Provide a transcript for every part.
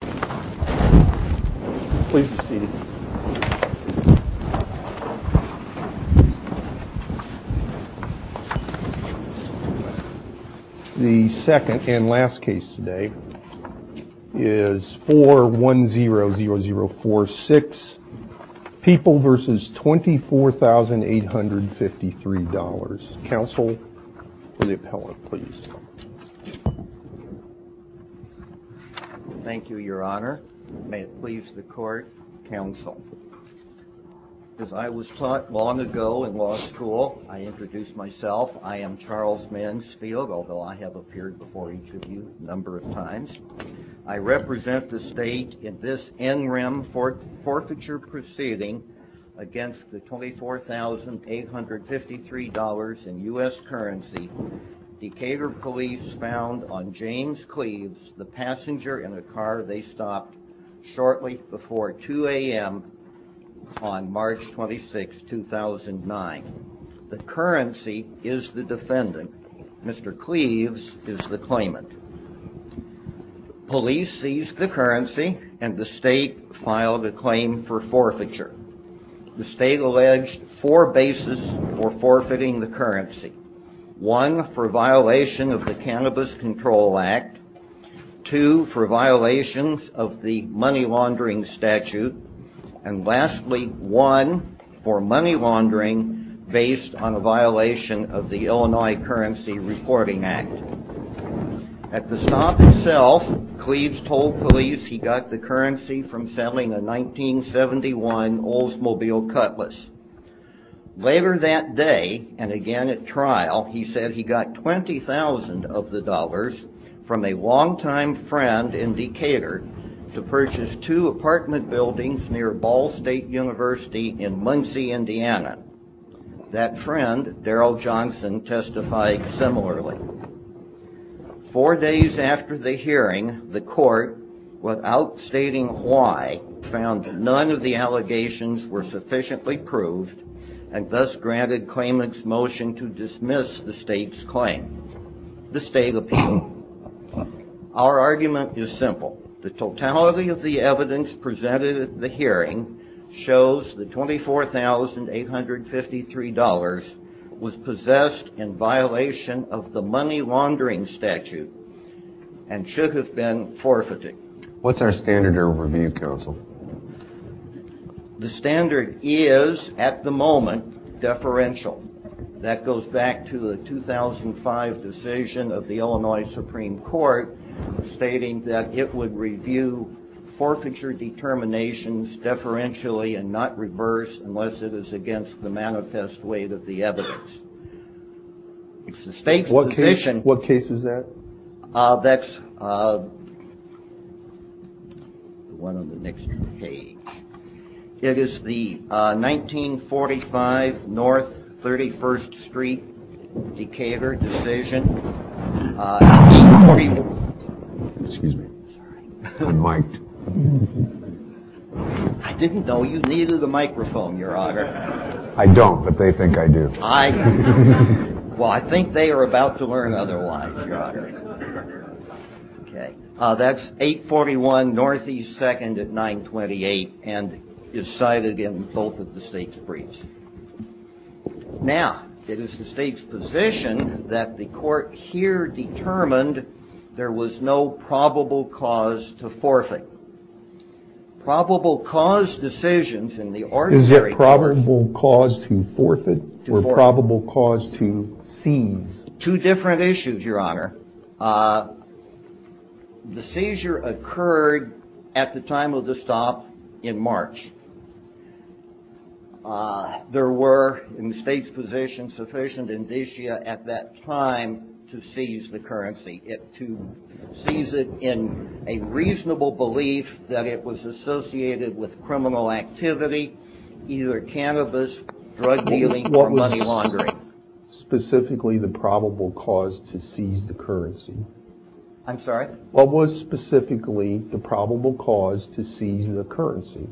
The second and last case today is Four One Zero Zero Zero Four Six People versus Twenty Four Thousand Eight Hundred Fifty Three Dollars. Counsel for the appellate, please. Thank you, Your Honor. May it please the court. Counsel, as I was taught long ago in law school, I introduced myself. I am Charles Mansfield, although I have appeared before each of you a number of times. I represent the state in this NREM for forfeiture proceeding against the Twenty Four Thousand Eight Hundred Fifty Three Dollars in U.S. currency. Decatur police found on James Cleaves the passenger in a car they stopped shortly before 2 a.m. on March 26, 2009. The currency is the defendant. Mr. Cleaves is the claimant. Police seized the currency and the state filed a claim for forfeiture. The state alleged four bases for forfeiting the currency, one for violation of the Cannabis Control Act, two for violations of the money laundering statute, and lastly, one for money laundering based on a violation of the Illinois Currency Reporting Act. At the stop itself, Cleaves told police he got the currency from selling a 1971 Oldsmobile Cutlass. Later that day, and again at trial, he said he got twenty thousand of the dollars from a long-time friend in Decatur to purchase two apartment buildings near Ball State University in Muncie, Indiana. That friend, Daryl Johnson, testified similarly. Four days after the hearing, the court, without stating why, found none of the allegations were sufficiently proved and thus granted claimant's motion to dismiss the state's claim, the state opinion. Our argument is simple. The totality of the evidence presented at the hearing shows that $24,853 was possessed in violation of the money laundering statute and should have been forfeited. What's our standard of review, counsel? The standard is, at the moment, deferential. That goes back to the 2005 decision of the Illinois Supreme Court stating that it would review forfeiture determinations deferentially and not reverse unless it is against the manifest weight of the evidence. What case is that? That's the one on the next page. It is the 1945 North 31st Street Decatur decision. Excuse me. I'm mic'd. I didn't know you needed a microphone, your honor. I don't, but they think I do. Well, I think they are about to learn otherwise, your honor. That's 841 Northeast 2nd at 928 and is cited in both of the state's briefs. Now, it is the state's position that the court here determined there was no probable cause to forfeit. Is there probable cause to forfeit or probable cause to seize? Two different issues, your honor. The seizure occurred at the time of the stop in March. There were, in the state's position, sufficient indicia at that time to seize the currency, to seize it in a reasonable belief that it was associated with criminal activity, either cannabis, drug dealing, or money laundering. What was specifically the probable cause to seize the currency? I'm sorry? What was specifically the probable cause to seize the currency?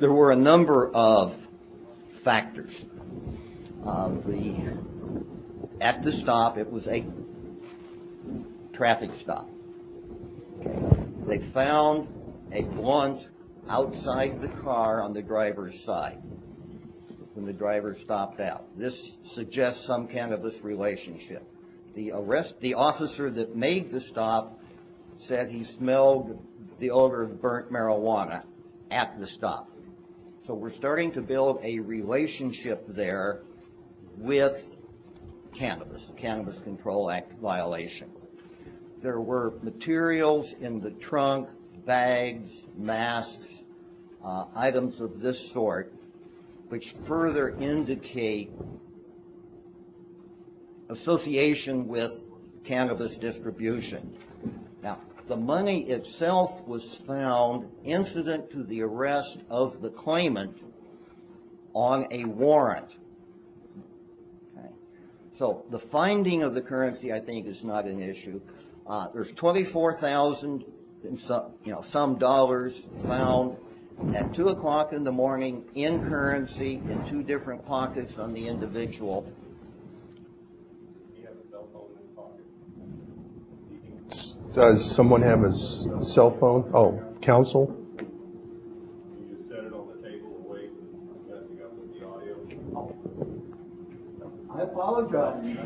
There were a number of factors. At the stop, it was a traffic stop. They found a blunt outside the car on the driver's side when the driver stopped out. This suggests some cannabis relationship. The arrest, the officer that made the stop said he smelled the odor of burnt marijuana at the stop. So we're starting to build a relationship there with cannabis, the Cannabis Control Act violation. There were materials in the trunk, bags, masks, items of this sort, which further indicate association with cannabis distribution. Now, the money itself was found incident to the arrest of the claimant on a warrant. So the finding of the currency, I think, is not an issue. There's $24,000 some dollars found at 2 o'clock in the morning in currency in two different pockets on the individual. Does someone have a cell phone? Oh, counsel? You just said it on the table. Wait. I'm messing up with the audio. I apologize.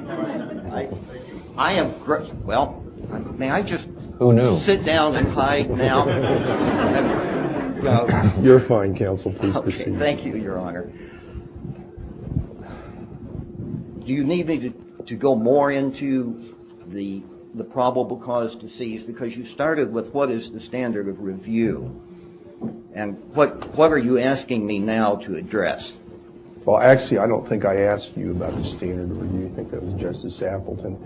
I am. Well, may I just sit down and hide now? You're fine, counsel. Thank you, Your Honor. Do you need me to go more into the probable cause to seize? Because you started with what is the standard of review and what are you asking me now to address? Well, actually, I don't think I asked you about the standard of review. I think that was Justice Appleton.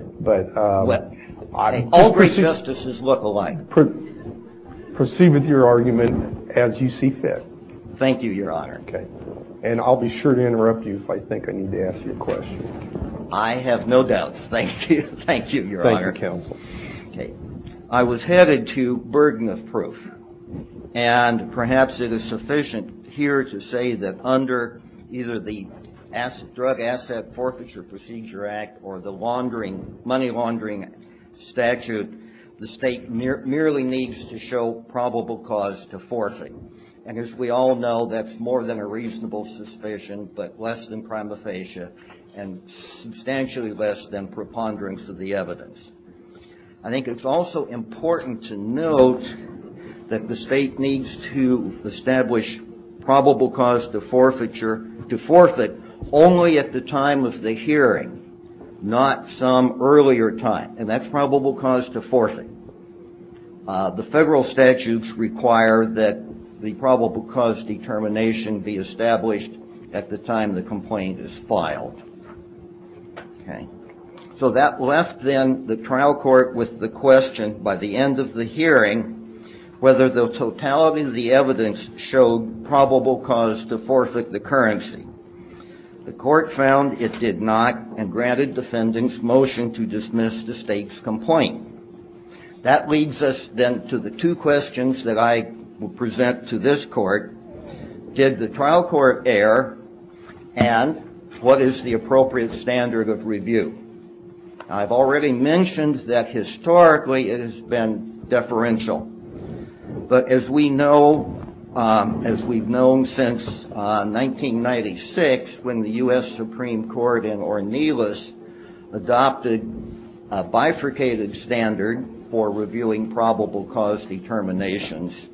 All great justices look alike. Proceed with your argument as you see fit. Thank you, Your Honor. And I'll be sure to interrupt you if I think I need to ask you a question. I have no doubts. Thank you, Your Honor. Thank you, counsel. I was headed to burden of proof. And perhaps it is sufficient here to say that under either the Drug Asset Forfeiture Procedure Act or the money laundering statute, the state merely needs to show probable cause to forfeit. And as we all know, that's more than a reasonable suspicion, but less than prima facie and substantially less than preponderance of the evidence. I think it's also important to note that the state needs to establish probable cause to forfeit only at the time of the hearing, not some earlier time. And that's probable cause to forfeit. The federal statutes require that the probable cause determination be established at the time the complaint is filed. So that left then the trial court with the question by the end of the hearing, whether the totality of the evidence showed probable cause to forfeit the currency. The court found it did not and granted defendants motion to dismiss the state's complaint. That leads us then to the two questions that I will present to this court. Did the trial court err? And what is the appropriate standard of review? I've already mentioned that historically it has been deferential. But as we know, as we've known since 1996, when the U.S. Supreme Court in Ornelas adopted a bifurcated standard for reviewing probable cause determinations,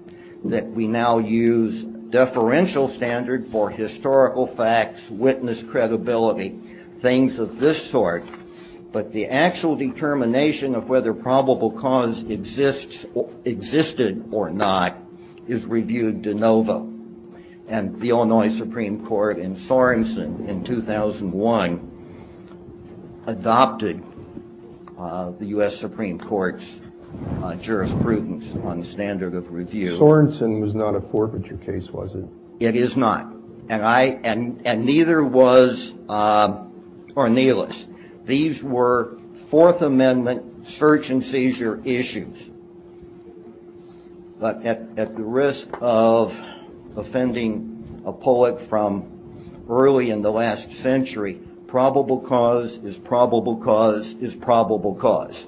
that we now use deferential standard for historical facts, witness credibility, things of this sort. But the actual determination of whether probable cause existed or not is reviewed de novo. And the Illinois Supreme Court in Sorensen in 2001 adopted the U.S. Supreme Court's jurisprudence on standard of review. Sorensen was not a forfeiture case, was it? It is not. And neither was Ornelas. These were Fourth Amendment search and seizure issues. But at the risk of offending a poet from early in the last century, probable cause is probable cause is probable cause.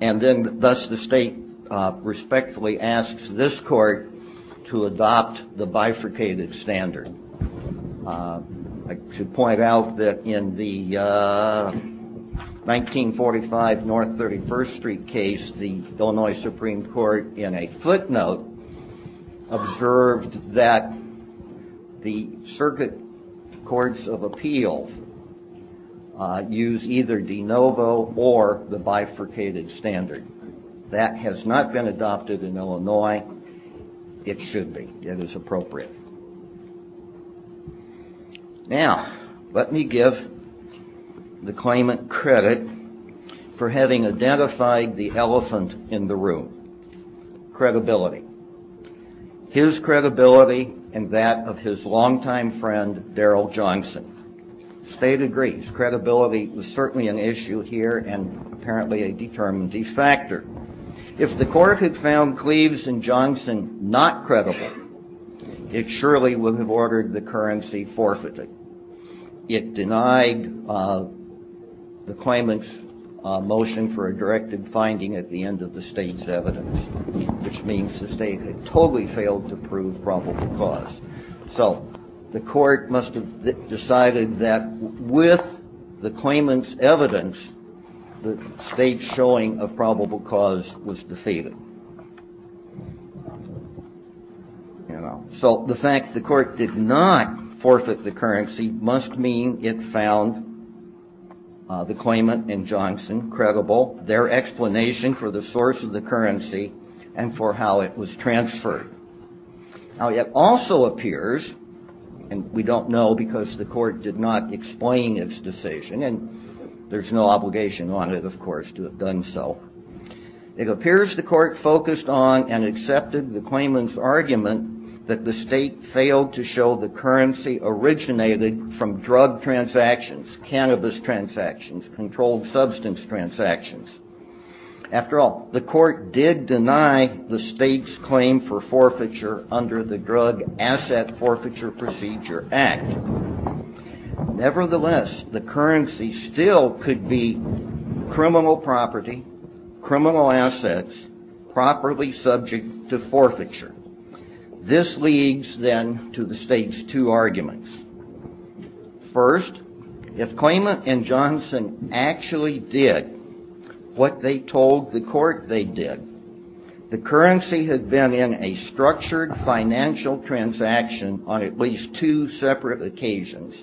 And then thus the state respectfully asks this court to adopt the bifurcated standard. I should point out that in the 1945 North 31st Street case, the Illinois Supreme Court, in a footnote, observed that the circuit courts of appeals use either de novo or the bifurcated standard. That has not been adopted in Illinois. It should be. It is appropriate. Now, let me give the claimant credit for having identified the elephant in the room, credibility. His credibility and that of his longtime friend, Daryl Johnson. The state agrees. Credibility was certainly an issue here and apparently a determinative factor. If the court had found Cleaves and Johnson not credible, it surely would have ordered the currency forfeited. It denied the claimant's motion for a directive finding at the end of the state's evidence, which means the state had totally failed to prove probable cause. So the court must have decided that with the claimant's evidence, the state's showing of probable cause was defeated. So the fact the court did not forfeit the currency must mean it found the claimant and Johnson credible, their explanation for the source of the currency and for how it was transferred. Now, it also appears, and we don't know because the court did not explain its decision and there's no obligation on it, of course, to have done so. It appears the court focused on and accepted the claimant's argument that the state failed to show the currency originated from drug transactions, cannabis transactions, controlled substance transactions. After all, the court did deny the state's claim for forfeiture under the Drug Asset Forfeiture Procedure Act. Nevertheless, the currency still could be criminal property, criminal assets, properly subject to forfeiture. This leads then to the state's two arguments. First, if claimant and Johnson actually did what they told the court they did, the currency had been in a structured financial transaction on at least two separate occasions.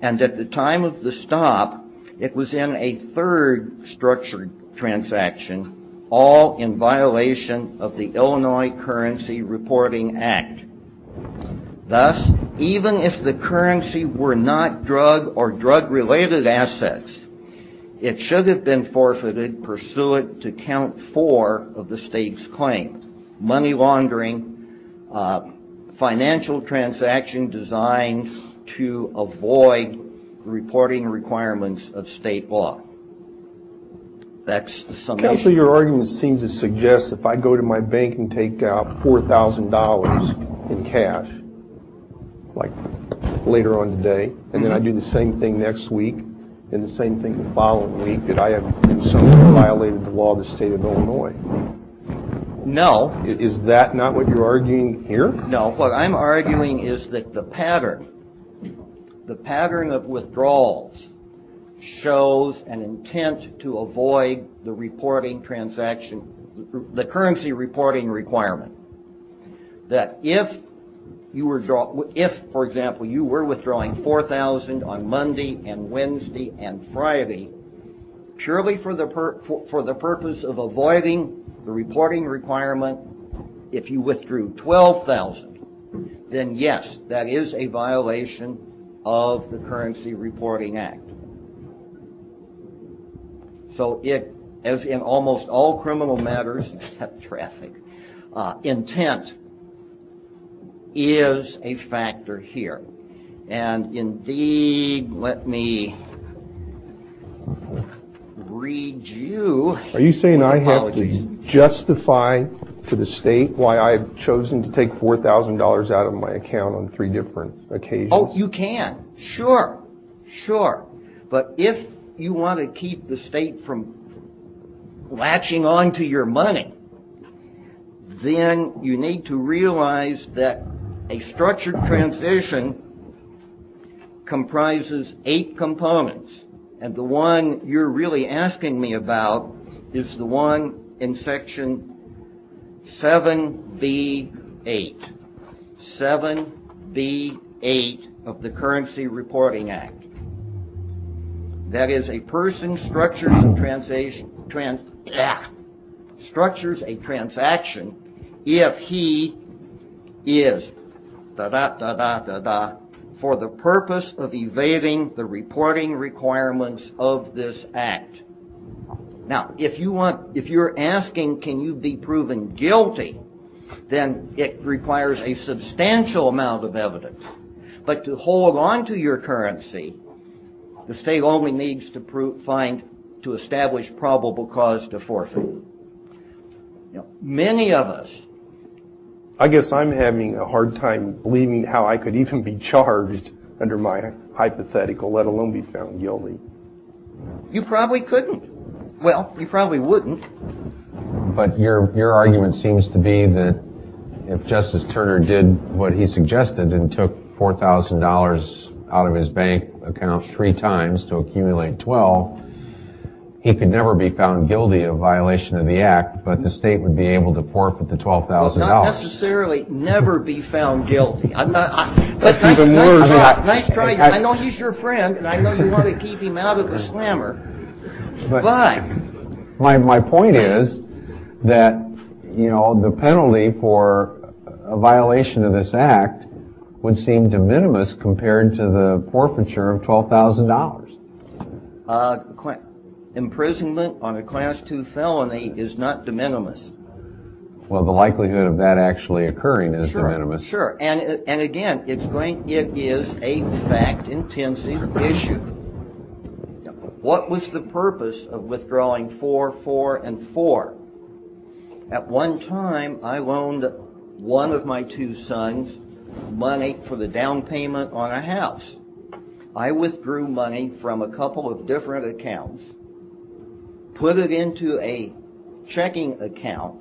And at the time of the stop, it was in a third structured transaction, all in violation of the Illinois Currency Reporting Act. Thus, even if the currency were not drug or drug-related assets, it should have been forfeited pursuant to count four of the state's claims, money laundering, financial transaction designed to avoid reporting requirements of state law. Counsel, your argument seems to suggest if I go to my bank and take out $4,000 in cash, like later on today, and then I do the same thing next week, and the same thing the following week, that I have in some way violated the law of the state of Illinois. No. Is that not what you're arguing here? No. What I'm arguing is that the pattern of withdrawals shows an intent to avoid the reporting transaction, the currency reporting requirement. That if, for example, you were withdrawing $4,000 on Monday and Wednesday and Friday, purely for the purpose of avoiding the reporting requirement, if you withdrew $12,000, then yes, that is a violation of the Currency Reporting Act. So as in almost all criminal matters, except traffic, intent is a factor here. Indeed, let me read you my apologies. Are you saying I have to justify to the state why I've chosen to take $4,000 out of my account on three different occasions? Oh, you can. Sure. Sure. But if you want to keep the state from latching on to your money, then you need to realize that a structured transition comprises eight components, and the one you're really asking me about is the one in section 7B8, 7B8 of the Currency Reporting Act. That is, a person structures a transaction if he is, da-da, da-da, da-da, for the purpose of evading the reporting requirements of this act. Now, if you're asking can you be proven guilty, then it requires a substantial amount of evidence. But to hold on to your currency, the state only needs to establish probable cause to forfeit. Many of us. I guess I'm having a hard time believing how I could even be charged under my hypothetical, let alone be found guilty. You probably couldn't. Well, you probably wouldn't. But your argument seems to be that if Justice Turner did what he suggested and took $4,000 out of his bank account three times to accumulate 12, he could never be found guilty of violation of the act, but the state would be able to forfeit the $12,000. Not necessarily never be found guilty. That's even worse. I know he's your friend, and I know you want to keep him out of the slammer, but. My point is that the penalty for a violation of this act would seem de minimis compared to the forfeiture of $12,000. Imprisonment on a Class II felony is not de minimis. Well, the likelihood of that actually occurring is de minimis. Sure. And again, it is a fact-intensive issue. What was the purpose of withdrawing four, four, and four? At one time, I loaned one of my two sons money for the down payment on a house. I withdrew money from a couple of different accounts, put it into a checking account,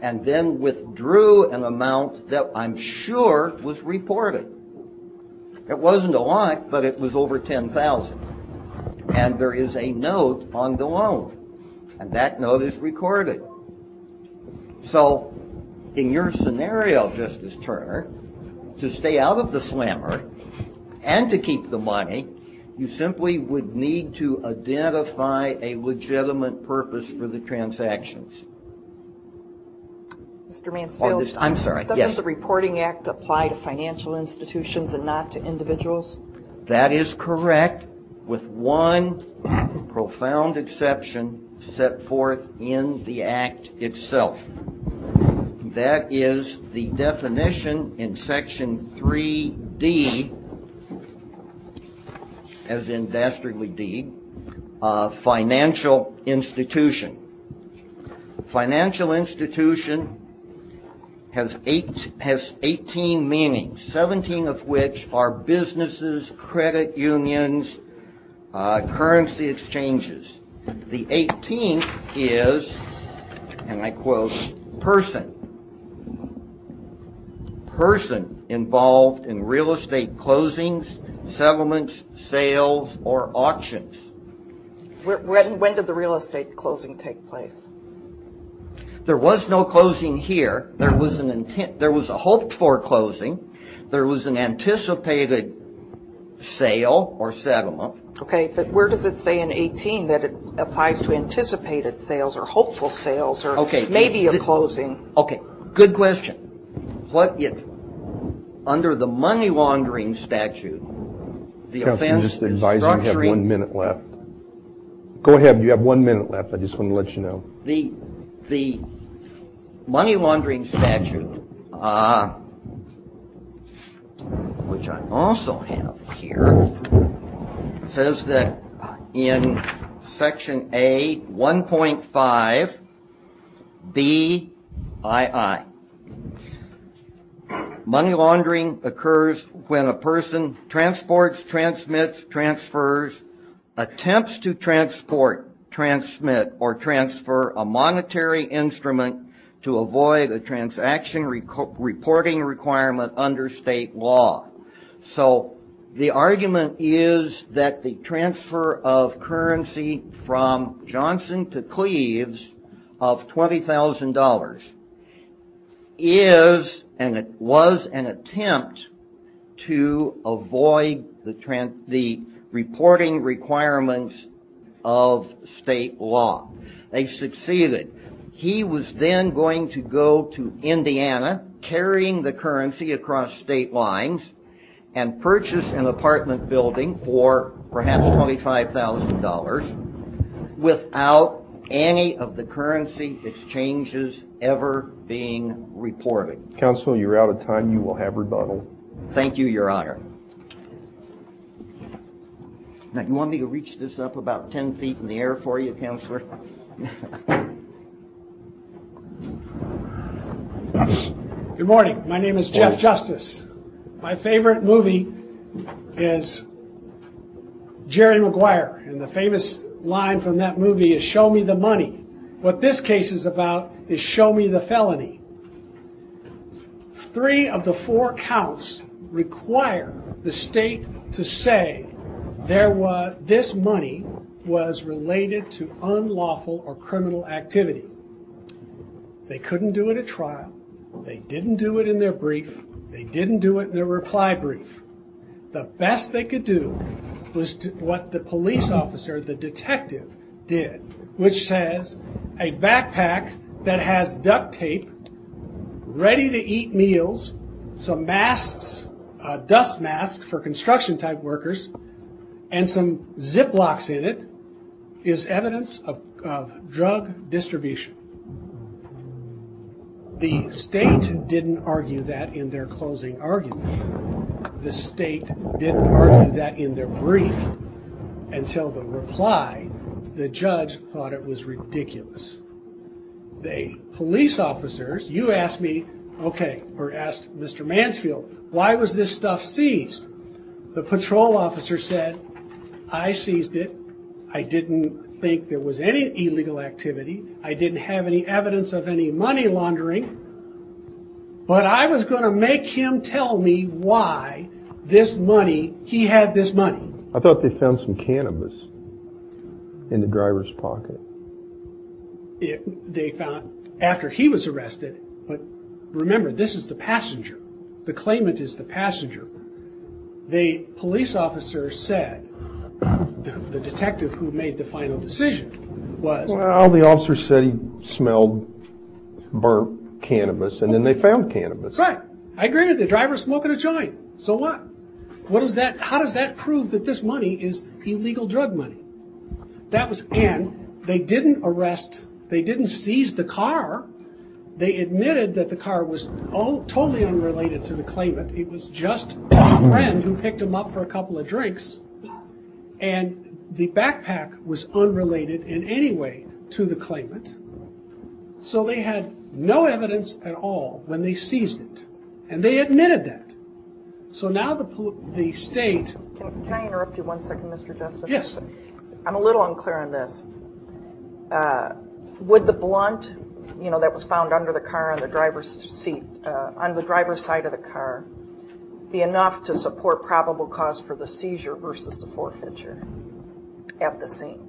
and then withdrew an amount that I'm sure was reported. It wasn't a lot, but it was over $10,000. And there is a note on the loan, and that note is recorded. So in your scenario, Justice Turner, to stay out of the slammer and to keep the money, you simply would need to identify a legitimate purpose for the transactions. Mr. Mansfield, doesn't the Reporting Act apply to financial institutions and not to individuals? That is correct, with one profound exception set forth in the Act itself. That is the definition in Section 3D, as in Dastardly Deed, of financial institution. Financial institution has 18 meanings, 17 of which are businesses, credit unions, currency exchanges. The 18th is, and I quote, person. Person involved in real estate closings, settlements, sales, or auctions. When did the real estate closing take place? There was no closing here. There was a hoped-for closing. There was an anticipated sale or settlement. Okay, but where does it say in 18 that it applies to anticipated sales or hopeful sales or maybe a closing? Okay, good question. Under the money laundering statute, the offense is structuring. Counsel, I'm just advising you have one minute left. Go ahead, you have one minute left. I just wanted to let you know. The money laundering statute, which I also have here, says that in Section A1.5BII, money laundering occurs when a person transports, transmits, transfers, attempts to transport, transmit, or transfer a monetary instrument to avoid a transaction reporting requirement under state law. So the argument is that the transfer of currency from Johnson to Cleves of $20,000 was an attempt to avoid the reporting requirements of state law. They succeeded. He was then going to go to Indiana, carrying the currency across state lines, and purchase an apartment building for perhaps $25,000 without any of the currency exchanges ever being reported. Counsel, you're out of time. You will have rebuttal. Thank you, Your Honor. Now, you want me to reach this up about 10 feet in the air for you, Counselor? Good morning. My name is Jeff Justice. My favorite movie is Jerry Maguire, and the famous line from that movie is, Show me the money. What this case is about is show me the felony. Three of the four counts require the state to say this money was related to unlawful or criminal activity. They couldn't do it at trial. They didn't do it in their brief. They didn't do it in their reply brief. The best they could do was what the police officer, the detective, did, which says a backpack that has duct tape, ready-to-eat meals, some masks, dust masks for construction-type workers, and some Ziplocs in it is evidence of drug distribution. The state didn't argue that in their closing arguments. The state didn't argue that in their brief until the reply. The judge thought it was ridiculous. The police officers, you asked me, okay, or asked Mr. Mansfield, why was this stuff seized? The patrol officer said, I seized it. I didn't think there was any illegal activity. I didn't have any evidence of any money laundering. But I was going to make him tell me why this money, he had this money. I thought they found some cannabis in the driver's pocket. They found, after he was arrested, but remember, this is the passenger. The claimant is the passenger. The police officer said, the detective who made the final decision was... Well, the officer said he smelled burnt cannabis, and then they found cannabis. Right, I agree with you. The driver was smoking a joint, so what? How does that prove that this money is illegal drug money? And they didn't arrest, they didn't seize the car. They admitted that the car was totally unrelated to the claimant. It was just a friend who picked him up for a couple of drinks. And the backpack was unrelated in any way to the claimant. So they had no evidence at all when they seized it. And they admitted that. So now the state... Can I interrupt you one second, Mr. Justice? Yes. I'm a little unclear on this. Would the blunt that was found under the car on the driver's seat, on the driver's side of the car, be enough to support probable cause for the seizure versus the forfeiture at the scene?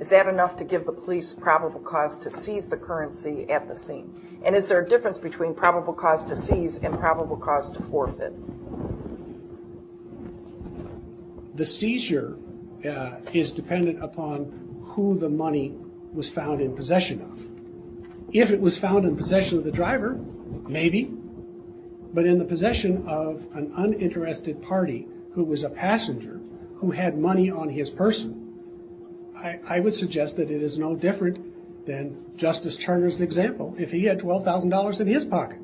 Is that enough to give the police probable cause to seize the currency at the scene? And is there a difference between probable cause to seize and probable cause to forfeit? The seizure is dependent upon who the money was found in possession of. If it was found in possession of the driver, maybe. But in the possession of an uninterested party who was a passenger who had money on his person, I would suggest that it is no different than Justice Turner's example. If he had $12,000 in his pocket.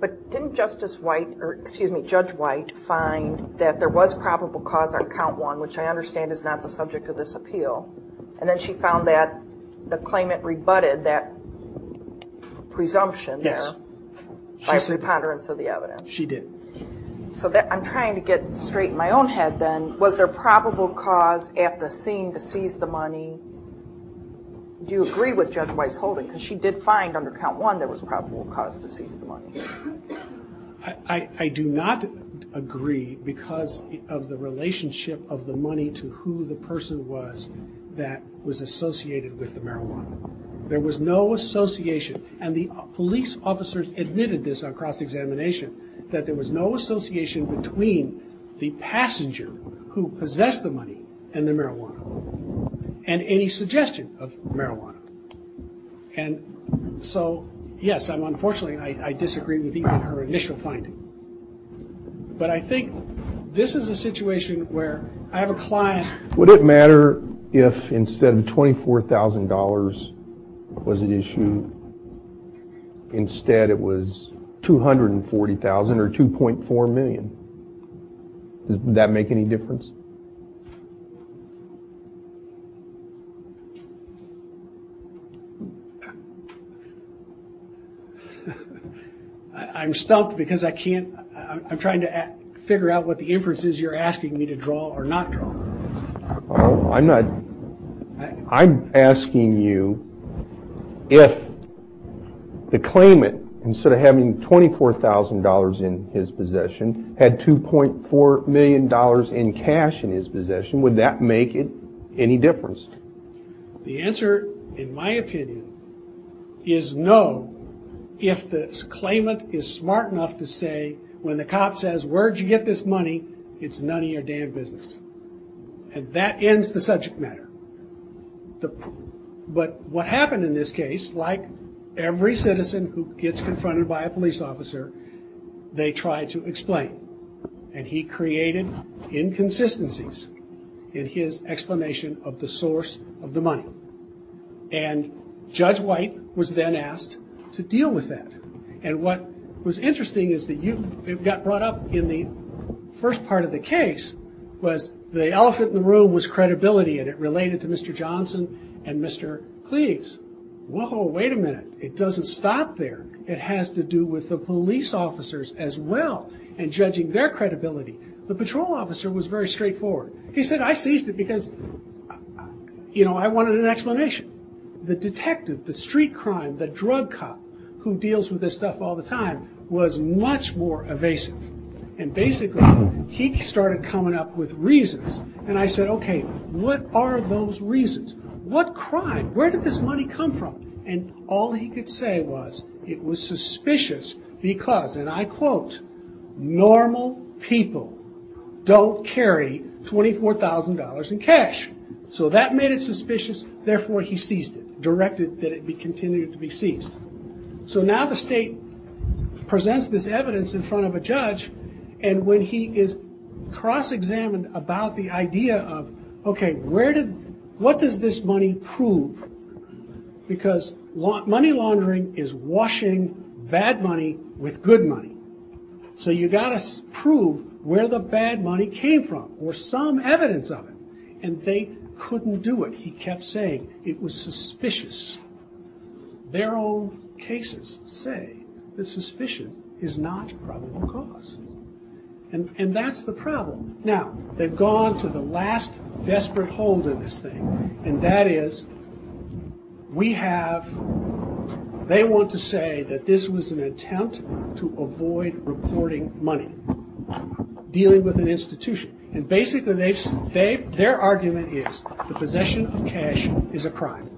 But didn't Justice White, or excuse me, Judge White, find that there was probable cause on count one, which I understand is not the subject of this appeal? And then she found that the claimant rebutted that presumption there. Yes. By preponderance of the evidence. She did. So I'm trying to get straight in my own head then. Was there probable cause at the scene to seize the money? Do you agree with Judge White's holding? Because she did find under count one there was probable cause to seize the money. I do not agree because of the relationship of the money to who the person was that was associated with the marijuana. There was no association. And the police officers admitted this on cross-examination, that there was no association between the passenger who possessed the money and the marijuana. And any suggestion of marijuana. And so, yes, unfortunately I disagree with even her initial finding. But I think this is a situation where I have a client. Would it matter if instead of $24,000 was at issue, instead it was $240,000 or $2.4 million? Would that make any difference? I'm stumped because I can't – I'm trying to figure out what the inference is you're asking me to draw or not draw. I'm asking you if the claimant, instead of having $24,000 in his possession, had $2.4 million in cash in his possession. Would that make any difference? The answer, in my opinion, is no. If the claimant is smart enough to say when the cop says, where'd you get this money, it's none of your damn business. And that ends the subject matter. But what happened in this case, like every citizen who gets confronted by a police officer, they try to explain. And he created inconsistencies in his explanation of the source of the money. And Judge White was then asked to deal with that. And what was interesting is that it got brought up in the first part of the case, was the elephant in the room was credibility, and it related to Mr. Johnson and Mr. Cleaves. Whoa, wait a minute. It doesn't stop there. It has to do with the police officers as well and judging their credibility. The patrol officer was very straightforward. He said, I seized it because I wanted an explanation. The detective, the street crime, the drug cop who deals with this stuff all the time, was much more evasive. And basically, he started coming up with reasons. And I said, okay, what are those reasons? What crime? Where did this money come from? And all he could say was it was suspicious because, and I quote, normal people don't carry $24,000 in cash. So that made it suspicious. Therefore, he seized it, directed that it be continued to be seized. So now the state presents this evidence in front of a judge, and when he is cross-examined about the idea of, okay, what does this money prove? Because money laundering is washing bad money with good money. So you've got to prove where the bad money came from or some evidence of it. And they couldn't do it. He kept saying it was suspicious. Their own cases say that suspicion is not probable cause. And that's the problem. Now, they've gone to the last desperate hold in this thing, and that is we have, they want to say that this was an attempt to avoid reporting money, dealing with an institution. And basically their argument is the possession of cash is a crime.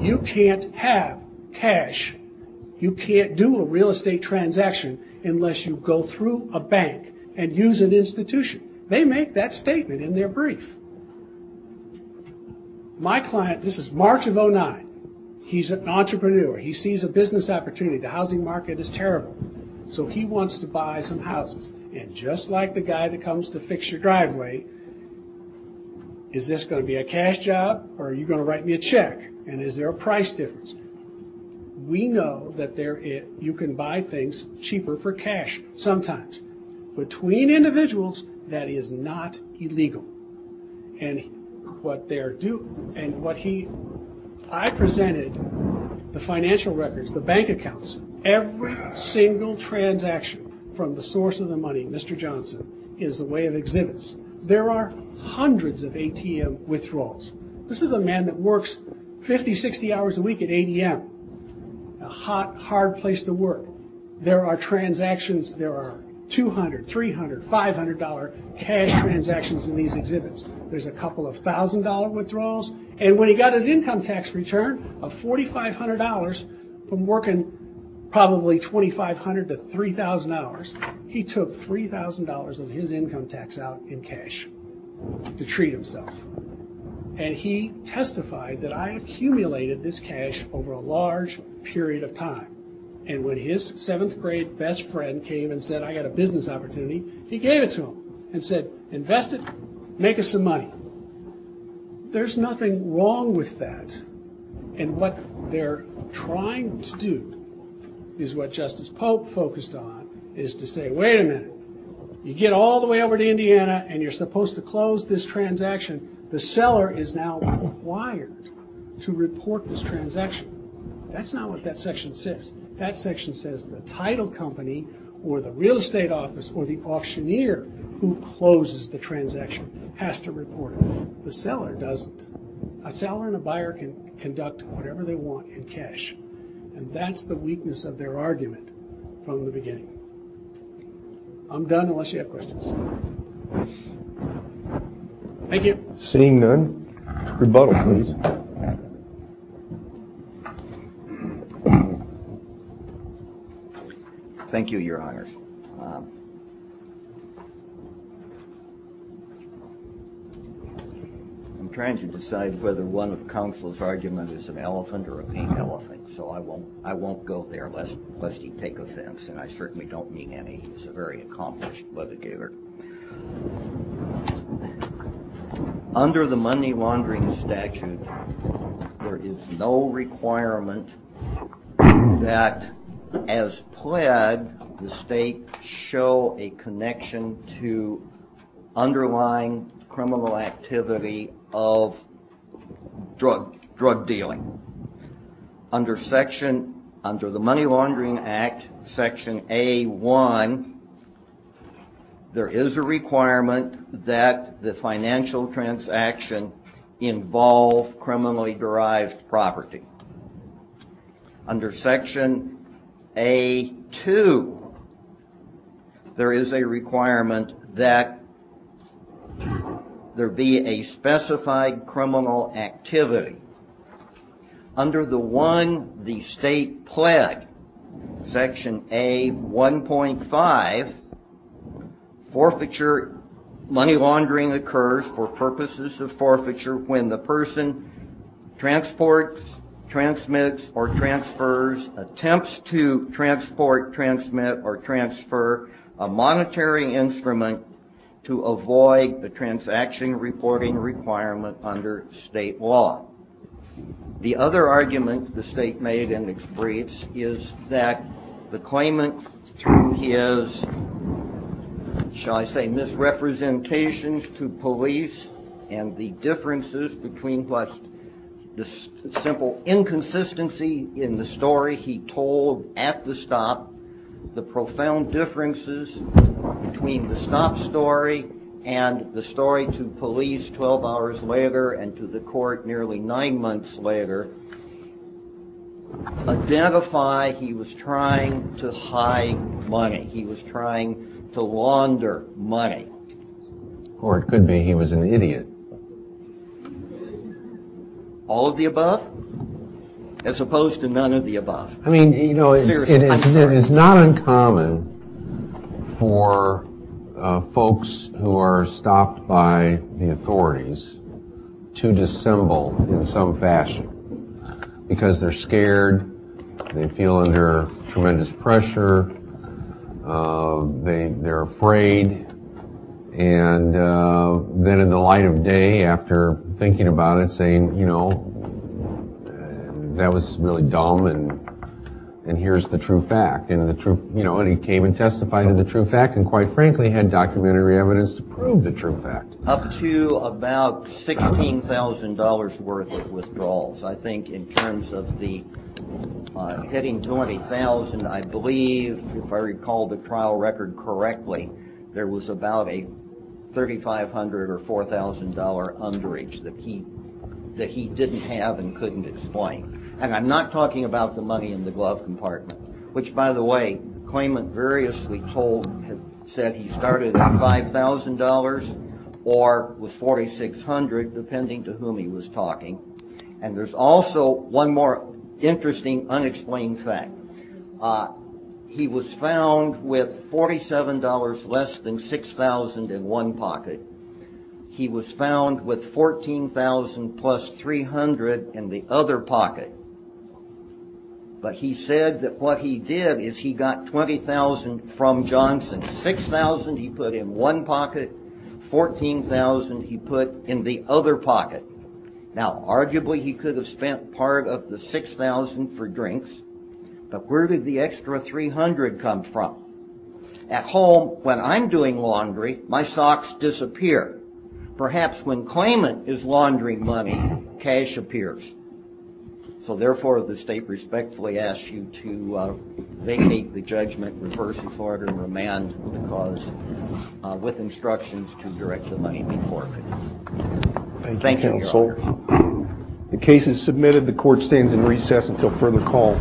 You can't have cash. You can't do a real estate transaction unless you go through a bank and use an institution. They make that statement in their brief. My client, this is March of 2009. He's an entrepreneur. He sees a business opportunity. The housing market is terrible. So he wants to buy some houses. And just like the guy that comes to fix your driveway, is this going to be a cash job or are you going to write me a check? And is there a price difference? We know that you can buy things cheaper for cash sometimes. Between individuals, that is not illegal. And what they're doing, and what he, I presented the financial records, the bank accounts, every single transaction from the source of the money, Mr. Johnson, is a way of exhibits. There are hundreds of ATM withdrawals. This is a man that works 50, 60 hours a week at ADM, a hot, hard place to work. There are transactions. There are $200, $300, $500 cash transactions in these exhibits. There's a couple of $1,000 withdrawals. And when he got his income tax return of $4,500 from working probably 2,500 to 3,000 hours, he took $3,000 of his income tax out in cash to treat himself. And he testified that I accumulated this cash over a large period of time. And when his seventh grade best friend came and said, I got a business opportunity, he gave it to him and said, Invest it, make us some money. There's nothing wrong with that. And what they're trying to do is what Justice Pope focused on, is to say, wait a minute, you get all the way over to Indiana and you're supposed to close this transaction. The seller is now required to report this transaction. That's not what that section says. That section says the title company or the real estate office or the auctioneer who closes the transaction has to report it. The seller doesn't. A seller and a buyer can conduct whatever they want in cash. And that's the weakness of their argument from the beginning. I'm done unless you have questions. Seeing none. Rebuttal, please. Thank you. Thank you, your honors. I'm trying to decide whether one of counsel's argument is an elephant or a pink elephant. So I won't go there unless you take offense. And I certainly don't mean any. He's a very accomplished litigator. Under the money laundering statute, there is no requirement that as pled the state show a connection to underlying criminal activity of drug dealing. Under the money laundering act, section A1, there is a requirement that the financial transaction involve criminally derived property. Under section A2, there is a requirement that there be a specified criminal activity. Under the one the state pled, section A1.5, forfeiture money laundering occurs for purposes of forfeiture when the person transports, transmits, or transfers, attempts to transport, transmit, or transfer a monetary instrument to avoid the transaction reporting requirement under state law. The other argument the state made in its briefs is that the claimant, through his, shall I say, misrepresentations to police and the differences between what the simple inconsistency in the story he told at the stop, the profound differences between the stop story and the story to police 12 hours later and to the court nearly nine months later, identify he was trying to hide money. He was trying to launder money. Or it could be he was an idiot. All of the above? As opposed to none of the above. I mean, you know, it is not uncommon for folks who are stopped by the authorities to dissemble in some fashion because they're scared, they feel under tremendous pressure, they're afraid, and then in the light of day, after thinking about it, saying, you know, that was really dumb and here's the true fact. And he came and testified to the true fact and, quite frankly, had documentary evidence to prove the true fact. Up to about $16,000 worth of withdrawals. I think in terms of the hitting $20,000, I believe, if I recall the trial record correctly, there was about a $3,500 or $4,000 underage that he didn't have and couldn't explain. And I'm not talking about the money in the glove compartment, which, by the way, claimant variously told had said he started at $5,000 or was $4,600 depending to whom he was talking. And there's also one more interesting unexplained fact. He was found with $47 less than $6,000 in one pocket. He was found with $14,000 plus $300 in the other pocket. But he said that what he did is he got $20,000 from Johnson, $6,000 he put in one pocket, $14,000 he put in the other pocket. Now, arguably, he could have spent part of the $6,000 for drinks, but where did the extra $300 come from? At home, when I'm doing laundry, my socks disappear. Perhaps when claimant is laundering money, cash appears. So, therefore, the state respectfully asks you to make the judgment, reverse its order, and remand the cause with instructions to direct the money Thank you, counsel. The case is submitted. The court stands in recess until further call.